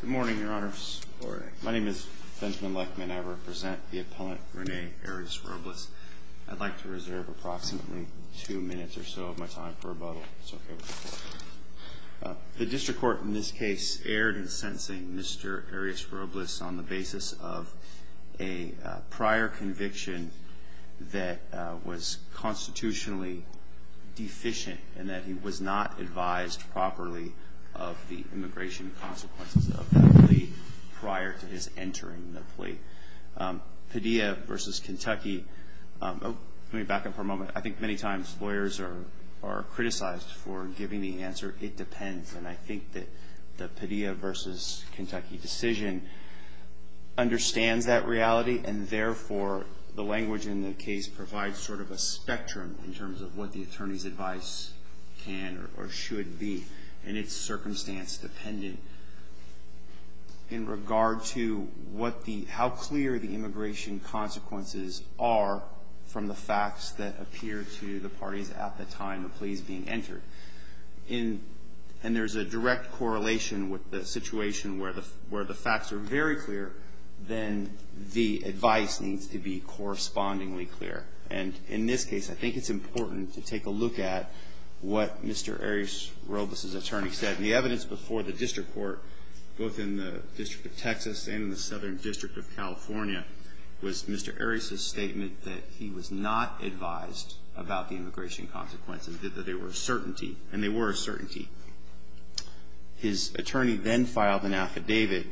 Good morning, your honors. My name is Benjamin Lechman and I represent the appellant Rene Arias-Robles. I'd like to reserve approximately two minutes or so of my time for rebuttal. The district court in this case erred in sentencing Mr. Arias-Robles on the basis of a prior conviction that was constitutionally deficient and that he was not advised properly of the immigration consequences of that plea prior to his entering the plea. Padilla v. Kentucky, let me back up for a moment, I think many times lawyers are criticized for giving the answer, it depends, and I think that the Padilla v. Kentucky decision understands that reality and therefore the language in the case provides sort of a spectrum in terms of what the attorney's advice can or should be in its circumstance dependent in regard to what the, how clear the immigration consequences are from the facts that appear to the parties at the time the plea is being entered. In, and there's a direct correlation with the situation where the, where the facts are very clear, then the advice needs to be correspondingly clear. And in this case, I think it's important to take a look at what Mr. Arias-Robles' attorney said. The evidence before the district court, both in the District of Texas and in the Southern District of California, was Mr. Arias' statement that he was not advised about the immigration consequences, that there were certainty, and there were certainty. His attorney then filed an affidavit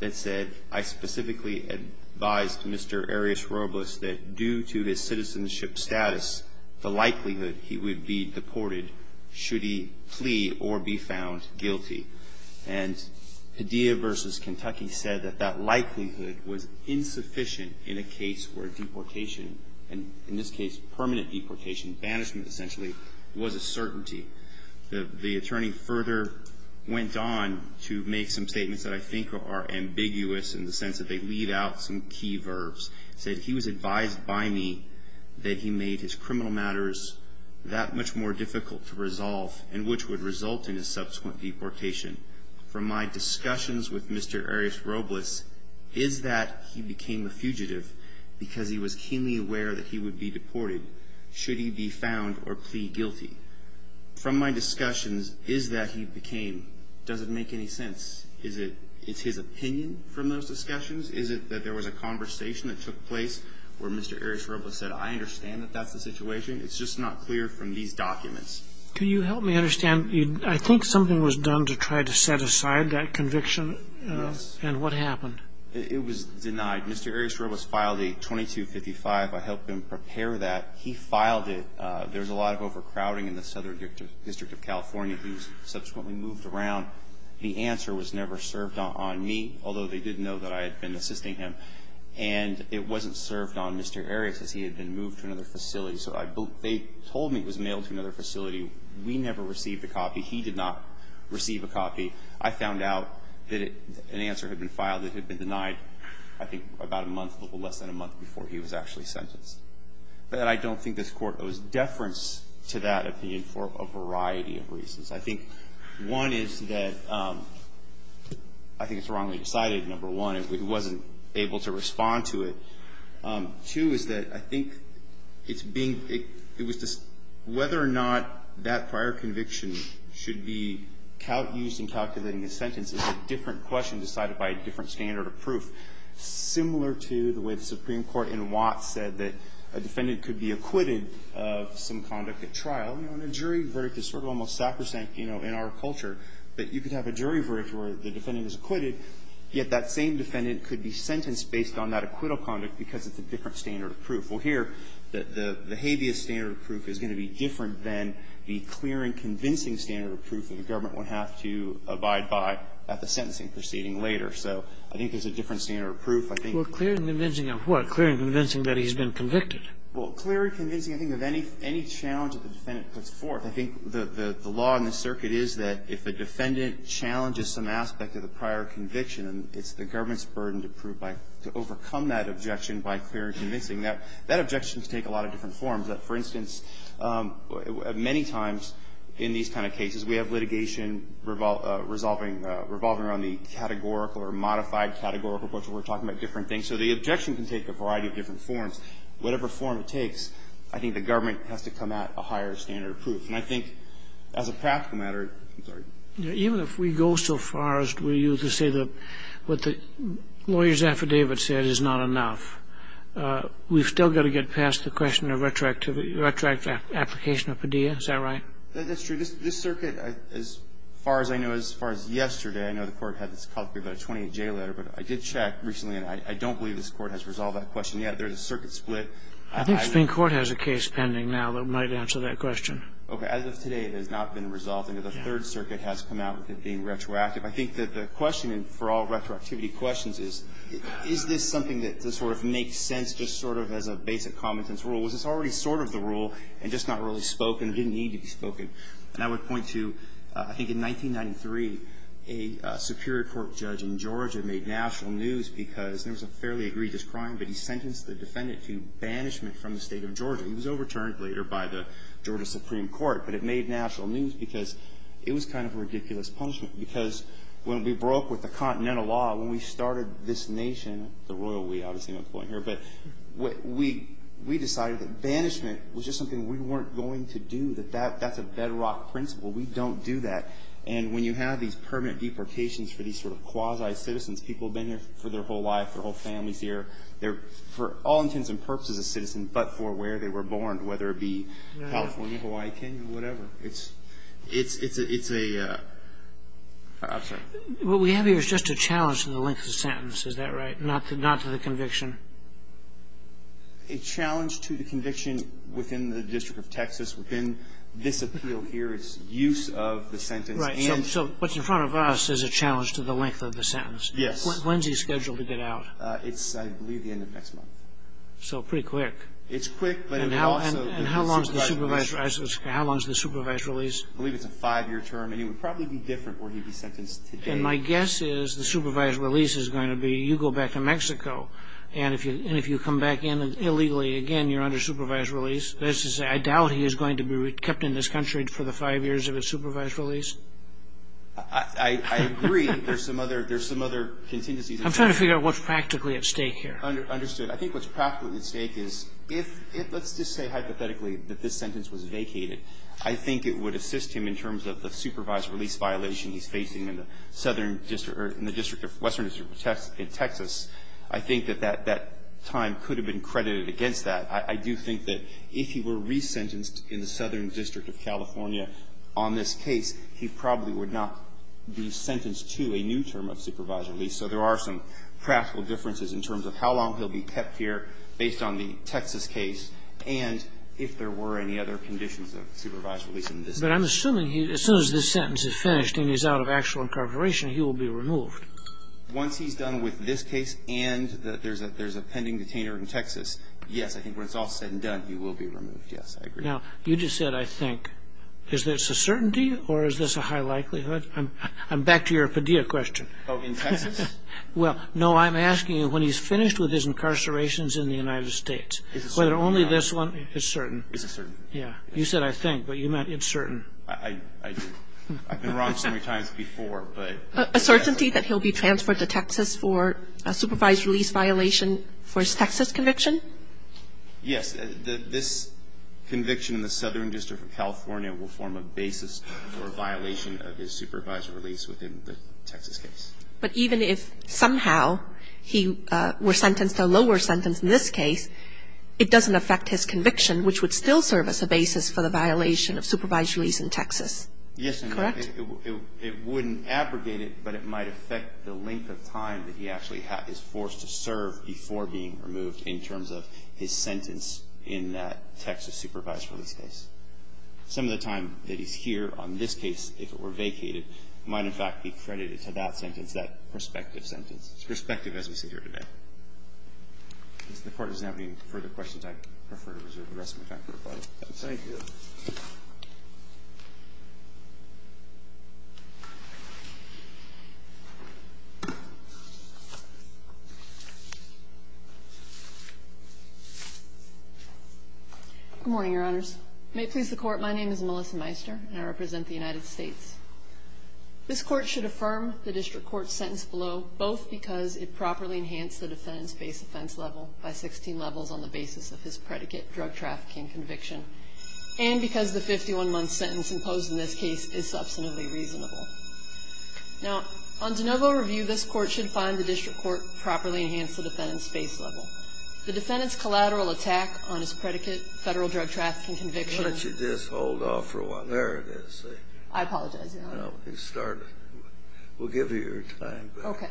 that said, I specifically advised Mr. Arias-Robles that due to his citizenship status, the case was found guilty. And Padilla versus Kentucky said that that likelihood was insufficient in a case where deportation, and in this case, permanent deportation, banishment essentially, was a certainty. The, the attorney further went on to make some statements that I think are ambiguous in the sense that they leave out some key verbs. Said he was advised by me that he made his criminal matters that much more difficult to resolve and which would result in his subsequent deportation. From my discussions with Mr. Arias-Robles, is that he became a fugitive because he was keenly aware that he would be deported? Should he be found or plead guilty? From my discussions, is that he became, does it make any sense? Is it, is his opinion from those discussions? Is it that there was a conversation that took place where Mr. Arias-Robles said, I understand that that's the situation, it's just not clear from these documents? Can you help me understand? I think something was done to try to set aside that conviction. Yes. And what happened? It was denied. Mr. Arias-Robles filed a 2255. I helped him prepare that. He filed it. There's a lot of overcrowding in the Southern District of California. He was subsequently moved around. The answer was never served on me, although they did know that I had been assisting him. And it wasn't served on Mr. Arias as he had been moved to another facility. So I, they told me it was mailed to another facility. We never received a copy. He did not receive a copy. I found out that an answer had been filed that had been denied, I think, about a month, a little less than a month before he was actually sentenced. But I don't think this court owes deference to that opinion for a variety of reasons. I think one is that, I think it's wrongly decided, number one, it wasn't able to respond to it. Two is that I think it's being, it was just, whether or not that prior conviction should be used in calculating a sentence is a different question decided by a different standard of proof. Similar to the way the Supreme Court in Watts said that a defendant could be acquitted of some conduct at trial. You know, in a jury verdict, it's sort of almost sacrosanct, you know, in our culture, that you could have a jury verdict where the defendant is acquitted, yet that same defendant could be sentenced based on that acquittal conduct because it's a different standard of proof. Well, here, the habeas standard of proof is going to be different than the clear and convincing standard of proof that the government would have to abide by at the sentencing proceeding later. So I think there's a different standard of proof. I think the law in the circuit is that if a defendant challenges some aspect of the prior conviction, he's going to have to abide by that prior conviction. And it's the government's burden to prove by, to overcome that objection by clear and convincing. That objection can take a lot of different forms. For instance, many times in these kind of cases, we have litigation revolving around the categorical or modified categorical approach, where we're talking about different things. So the objection can take a variety of different forms. Whatever form it takes, I think the government has to come at a higher standard of proof. And I think as a practical matter, I'm sorry. Even if we go so far as to say that what the lawyer's affidavit said is not enough, we've still got to get past the question of retroactive application of Padilla. Is that right? That's true. This circuit, as far as I know, as far as yesterday, I know the Court had this call to be about a 28J letter, but I did check recently, and I don't believe this Court has resolved that question yet. There's a circuit split. I think Supreme Court has a case pending now that might answer that question. Okay. As of today, it has not been resolved. I know the Third Circuit has come out with it being retroactive. I think that the question for all retroactivity questions is, is this something that sort of makes sense just sort of as a basic common-sense rule? Was this already sort of the rule and just not really spoken or didn't need to be spoken? And I would point to, I think in 1993, a Superior Court judge in Georgia made national news because there was a fairly egregious crime, but he sentenced the defendant to banishment from the State of Georgia. He was overturned later by the Georgia Supreme Court, but it made national news because it was kind of a ridiculous punishment. Because when we broke with the Continental Law, when we started this nation, the royal we ought to seem important here, but we decided that banishment was just something we weren't going to do, that that's a bedrock principle. We don't do that. And when you have these permanent deportations for these sort of quasi-citizens, people have been here for their whole life, their whole families here. They're for all generations, whether it be California, Hawaii, Kenya, whatever. It's a I'm sorry. What we have here is just a challenge to the length of the sentence, is that right? Not to the conviction? A challenge to the conviction within the District of Texas, within this appeal here, its use of the sentence. Right. So what's in front of us is a challenge to the length of the sentence. Yes. When's he scheduled to get out? It's, I believe, the end of next month. So pretty quick. It's quick, but it would also And how long is the supervised release? I believe it's a five-year term, and it would probably be different where he'd be sentenced today. And my guess is the supervised release is going to be, you go back to Mexico, and if you come back in illegally again, you're under supervised release. That is to say, I doubt he is going to be kept in this country for the five years of his supervised release. I agree. There's some other contingencies. I'm trying to figure out what's practically at stake here. Understood. I think what's practically at stake is if, let's just say hypothetically that this sentence was vacated, I think it would assist him in terms of the supervised release violation he's facing in the Southern District, or in the District of Western District of Texas. I think that that time could have been credited against that. I do think that if he were resentenced in the Southern District of California on this case, he probably would not be sentenced to a new term of supervised release. So there are some practical differences in terms of how long he'll be kept here based on the Texas case, and if there were any other conditions of supervised release in this case. But I'm assuming as soon as this sentence is finished and he's out of actual incarceration, he will be removed. Once he's done with this case and that there's a pending detainer in Texas, yes, I think when it's all said and done, he will be removed. Yes, I agree. Now, you just said, I think, is this a certainty or is this a high likelihood? I'm back to your Padilla question. Oh, in Texas? Well, no, I'm asking you when he's finished with his incarcerations in the United States, whether only this one is certain. Is it certain? Yeah. You said, I think, but you meant it's certain. I do. I've been wrong so many times before, but. A certainty that he'll be transferred to Texas for a supervised release violation for his Texas conviction? Yes, this conviction in the Southern District of California will form a basis for a violation of his supervised release within the Texas case. But even if somehow he were sentenced to a lower sentence in this case, it doesn't affect his conviction, which would still serve as a basis for the violation of supervised release in Texas. Yes. Correct? It wouldn't abrogate it, but it might affect the length of time that he actually is forced to serve before being removed in terms of his sentence in that Texas supervised release case. Some of the time that he's here on this case, if it were vacated, might in fact be credited to that sentence, that prospective sentence. Prospective, as we see here today. Since the Court does not have any further questions, I prefer to reserve the rest of my time for rebuttal. Thank you. Good morning, Your Honors. May it please the Court, my name is Melissa Meister, and I represent the United States. This Court should affirm the District Court's sentence below, both because it properly enhanced the defendant's base offense level by 16 levels on the basis of his predicate, drug trafficking conviction, and because the 51-month sentence imposed in this case is substantively reasonable. Now, on de novo review, this Court should find the District Court properly enhanced the defendant's base level. The defendant's collateral attack on his predicate, federal drug trafficking conviction. Why don't you just hold off for a while. There it is. I apologize, Your Honor. No, you start. We'll give you your time back. Okay.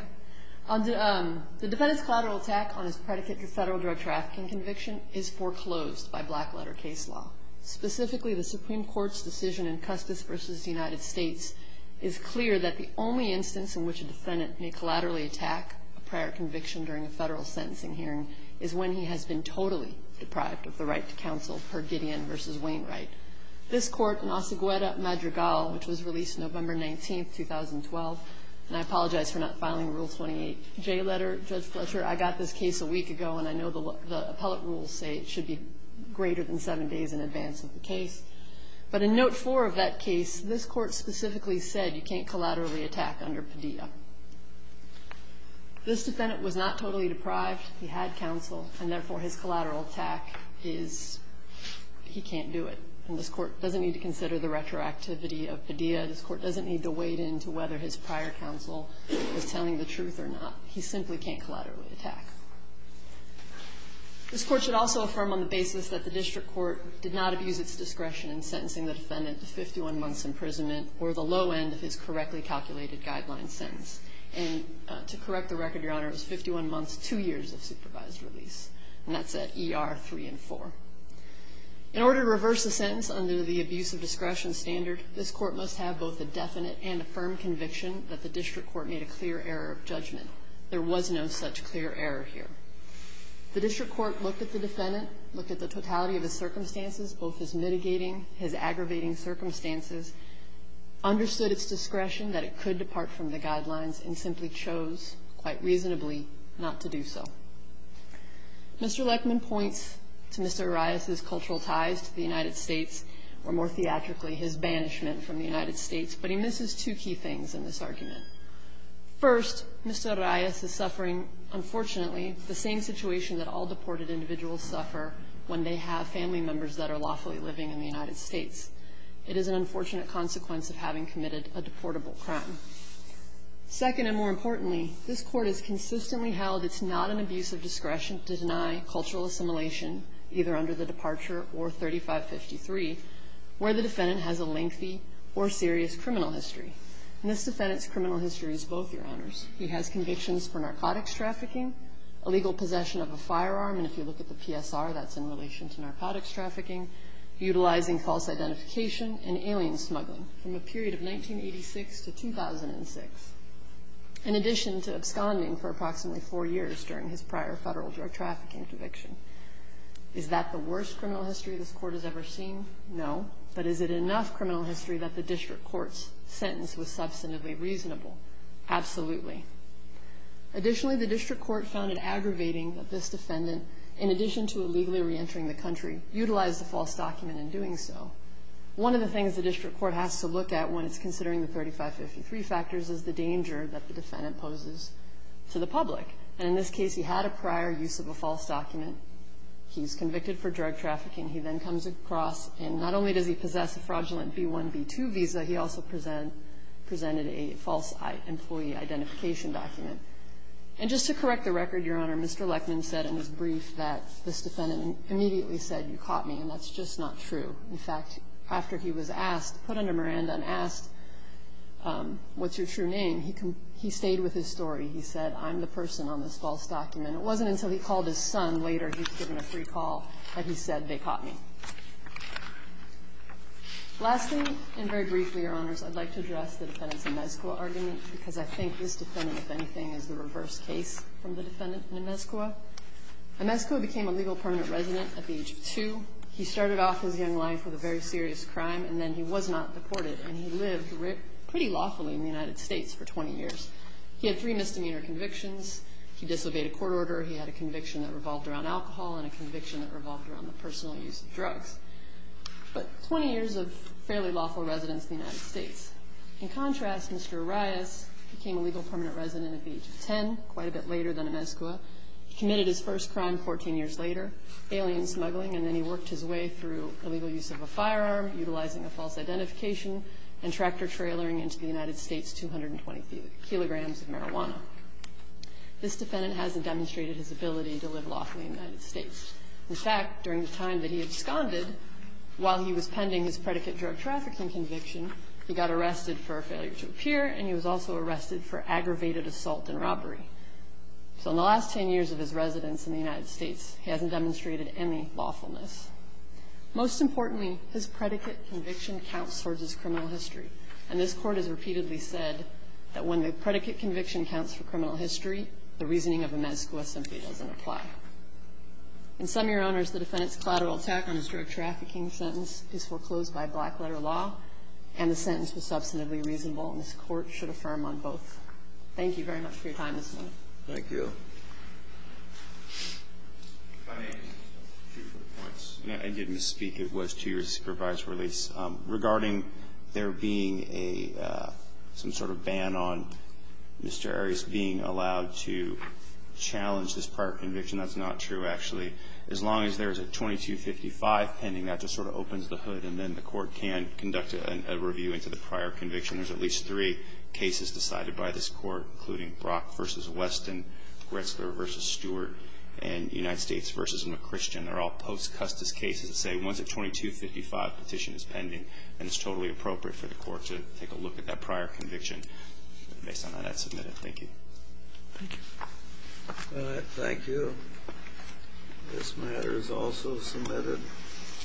The defendant's collateral attack on his predicate to federal drug trafficking conviction is foreclosed by black letter case law. Specifically, the Supreme Court's decision in Custis versus the United States is clear that the only instance in which a defendant may collaterally attack a prior conviction during a federal sentencing hearing is when he has been totally deprived of the right to counsel per Gideon versus Wainwright. This court, Nasegweta Madrigal, which was released November 19th, 2012, and I apologize for not filing Rule 28J letter, Judge Fletcher. I got this case a week ago, and I know the appellate rules say it should be greater than seven days in advance of the case. But in note four of that case, this court specifically said you can't collaterally attack under Padilla. This defendant was not totally deprived. He had counsel, and therefore his collateral attack is he can't do it. And this court doesn't need to consider the retroactivity of Padilla. This court doesn't need to wade into whether his prior counsel was telling the truth or not. He simply can't collaterally attack. This court should also affirm on the basis that the district court did not abuse its discretion in sentencing the defendant to 51 months imprisonment or the low end of his correctly calculated guideline sentence. And to correct the record, Your Honor, it was 51 months, two years of supervised release, and that's at ER three and four. In order to reverse the sentence under the abuse of discretion standard, this court must have both a definite and a firm conviction that the district court made a clear error of judgment. There was no such clear error here. The district court looked at the defendant, looked at the totality of his circumstances, both his mitigating, his aggravating circumstances, understood its discretion that it could depart from the guidelines, and simply chose, quite reasonably, not to do so. Mr. Leckman points to Mr. Arias' cultural ties to the United States, or more theatrically, his banishment from the United States. But he misses two key things in this argument. First, Mr. Arias is suffering, unfortunately, the same situation that all deported individuals suffer when they have family members that are lawfully living in the United States. It is an unfortunate consequence of having committed a deportable crime. Second, and more importantly, this court has consistently held it's not an abuse of discretion to deny cultural assimilation, either under the departure or 3553, where the defendant has a lengthy or serious criminal history. And this defendant's criminal history is both, your honors. He has convictions for narcotics trafficking, illegal possession of a firearm, and if you look at the PSR, that's in relation to narcotics trafficking, utilizing false identification, and alien smuggling, from a period of 1986 to 2006. In addition to absconding for approximately four years during his prior federal drug trafficking conviction. Is that the worst criminal history this court has ever seen? No, but is it enough criminal history that the district court's sentence was substantively reasonable? Absolutely. Additionally, the district court found it aggravating that this defendant, in addition to illegally re-entering the country, utilized a false document in doing so. One of the things the district court has to look at when it's considering the 3553 factors is the danger that the defendant poses to the public. And in this case, he had a prior use of a false document. He's convicted for drug trafficking. He then comes across, and not only does he possess a fraudulent B1, B2 visa, he also presented a false employee identification document. And just to correct the record, Your Honor, Mr. Lechman said in his brief that this defendant immediately said, you caught me, and that's just not true. In fact, after he was asked, put under Miranda and asked, what's your true name? He stayed with his story. He said, I'm the person on this false document. It wasn't until he called his son later, he was given a free call, that he said, they caught me. Lastly, and very briefly, Your Honors, I'd like to address the defendants in anything as the reverse case from the defendant, Inescoa. Inescoa became a legal permanent resident at the age of two. He started off his young life with a very serious crime, and then he was not deported, and he lived pretty lawfully in the United States for 20 years. He had three misdemeanor convictions. He disobeyed a court order. He had a conviction that revolved around alcohol, and a conviction that revolved around the personal use of drugs. But 20 years of fairly lawful residence in the United States. In contrast, Mr. Arias became a legal permanent resident at the age of ten, quite a bit later than Inescoa. Committed his first crime 14 years later, alien smuggling, and then he worked his way through the legal use of a firearm, utilizing a false identification, and tractor trailering into the United States 220 kilograms of marijuana. This defendant hasn't demonstrated his ability to live lawfully in the United States. In fact, during the time that he absconded, while he was pending his predicate drug trafficking conviction, he got arrested for a failure to appear, and he was also arrested for aggravated assault and robbery. So in the last ten years of his residence in the United States, he hasn't demonstrated any lawfulness. Most importantly, his predicate conviction counts towards his criminal history. And this court has repeatedly said that when the predicate conviction counts for criminal history, the reasoning of Inescoa simply doesn't apply. In some of your honors, the defendant's collateral attack on his drug trafficking sentence is foreclosed by black letter law, and the sentence was substantively reasonable, and this court should affirm on both. Thank you very much for your time this morning. Thank you. If I may, just a few quick points. I did misspeak. It was two years of supervised release. Regarding there being some sort of ban on Mr. Arias being allowed to challenge this prior conviction, that's not true, actually. As long as there's a 2255 pending, that just sort of opens the hood, and then the court can conduct a review into the prior conviction. There's at least three cases decided by this court, including Brock v. Weston, Gretzler v. Stewart, and United States v. McChristian. They're all post-Custis cases that say, once a 2255 petition is pending, and it's totally appropriate for the court to take a look at that prior conviction. Based on that, I'd submit it. Thank you. Thank you. This matter is also submitted.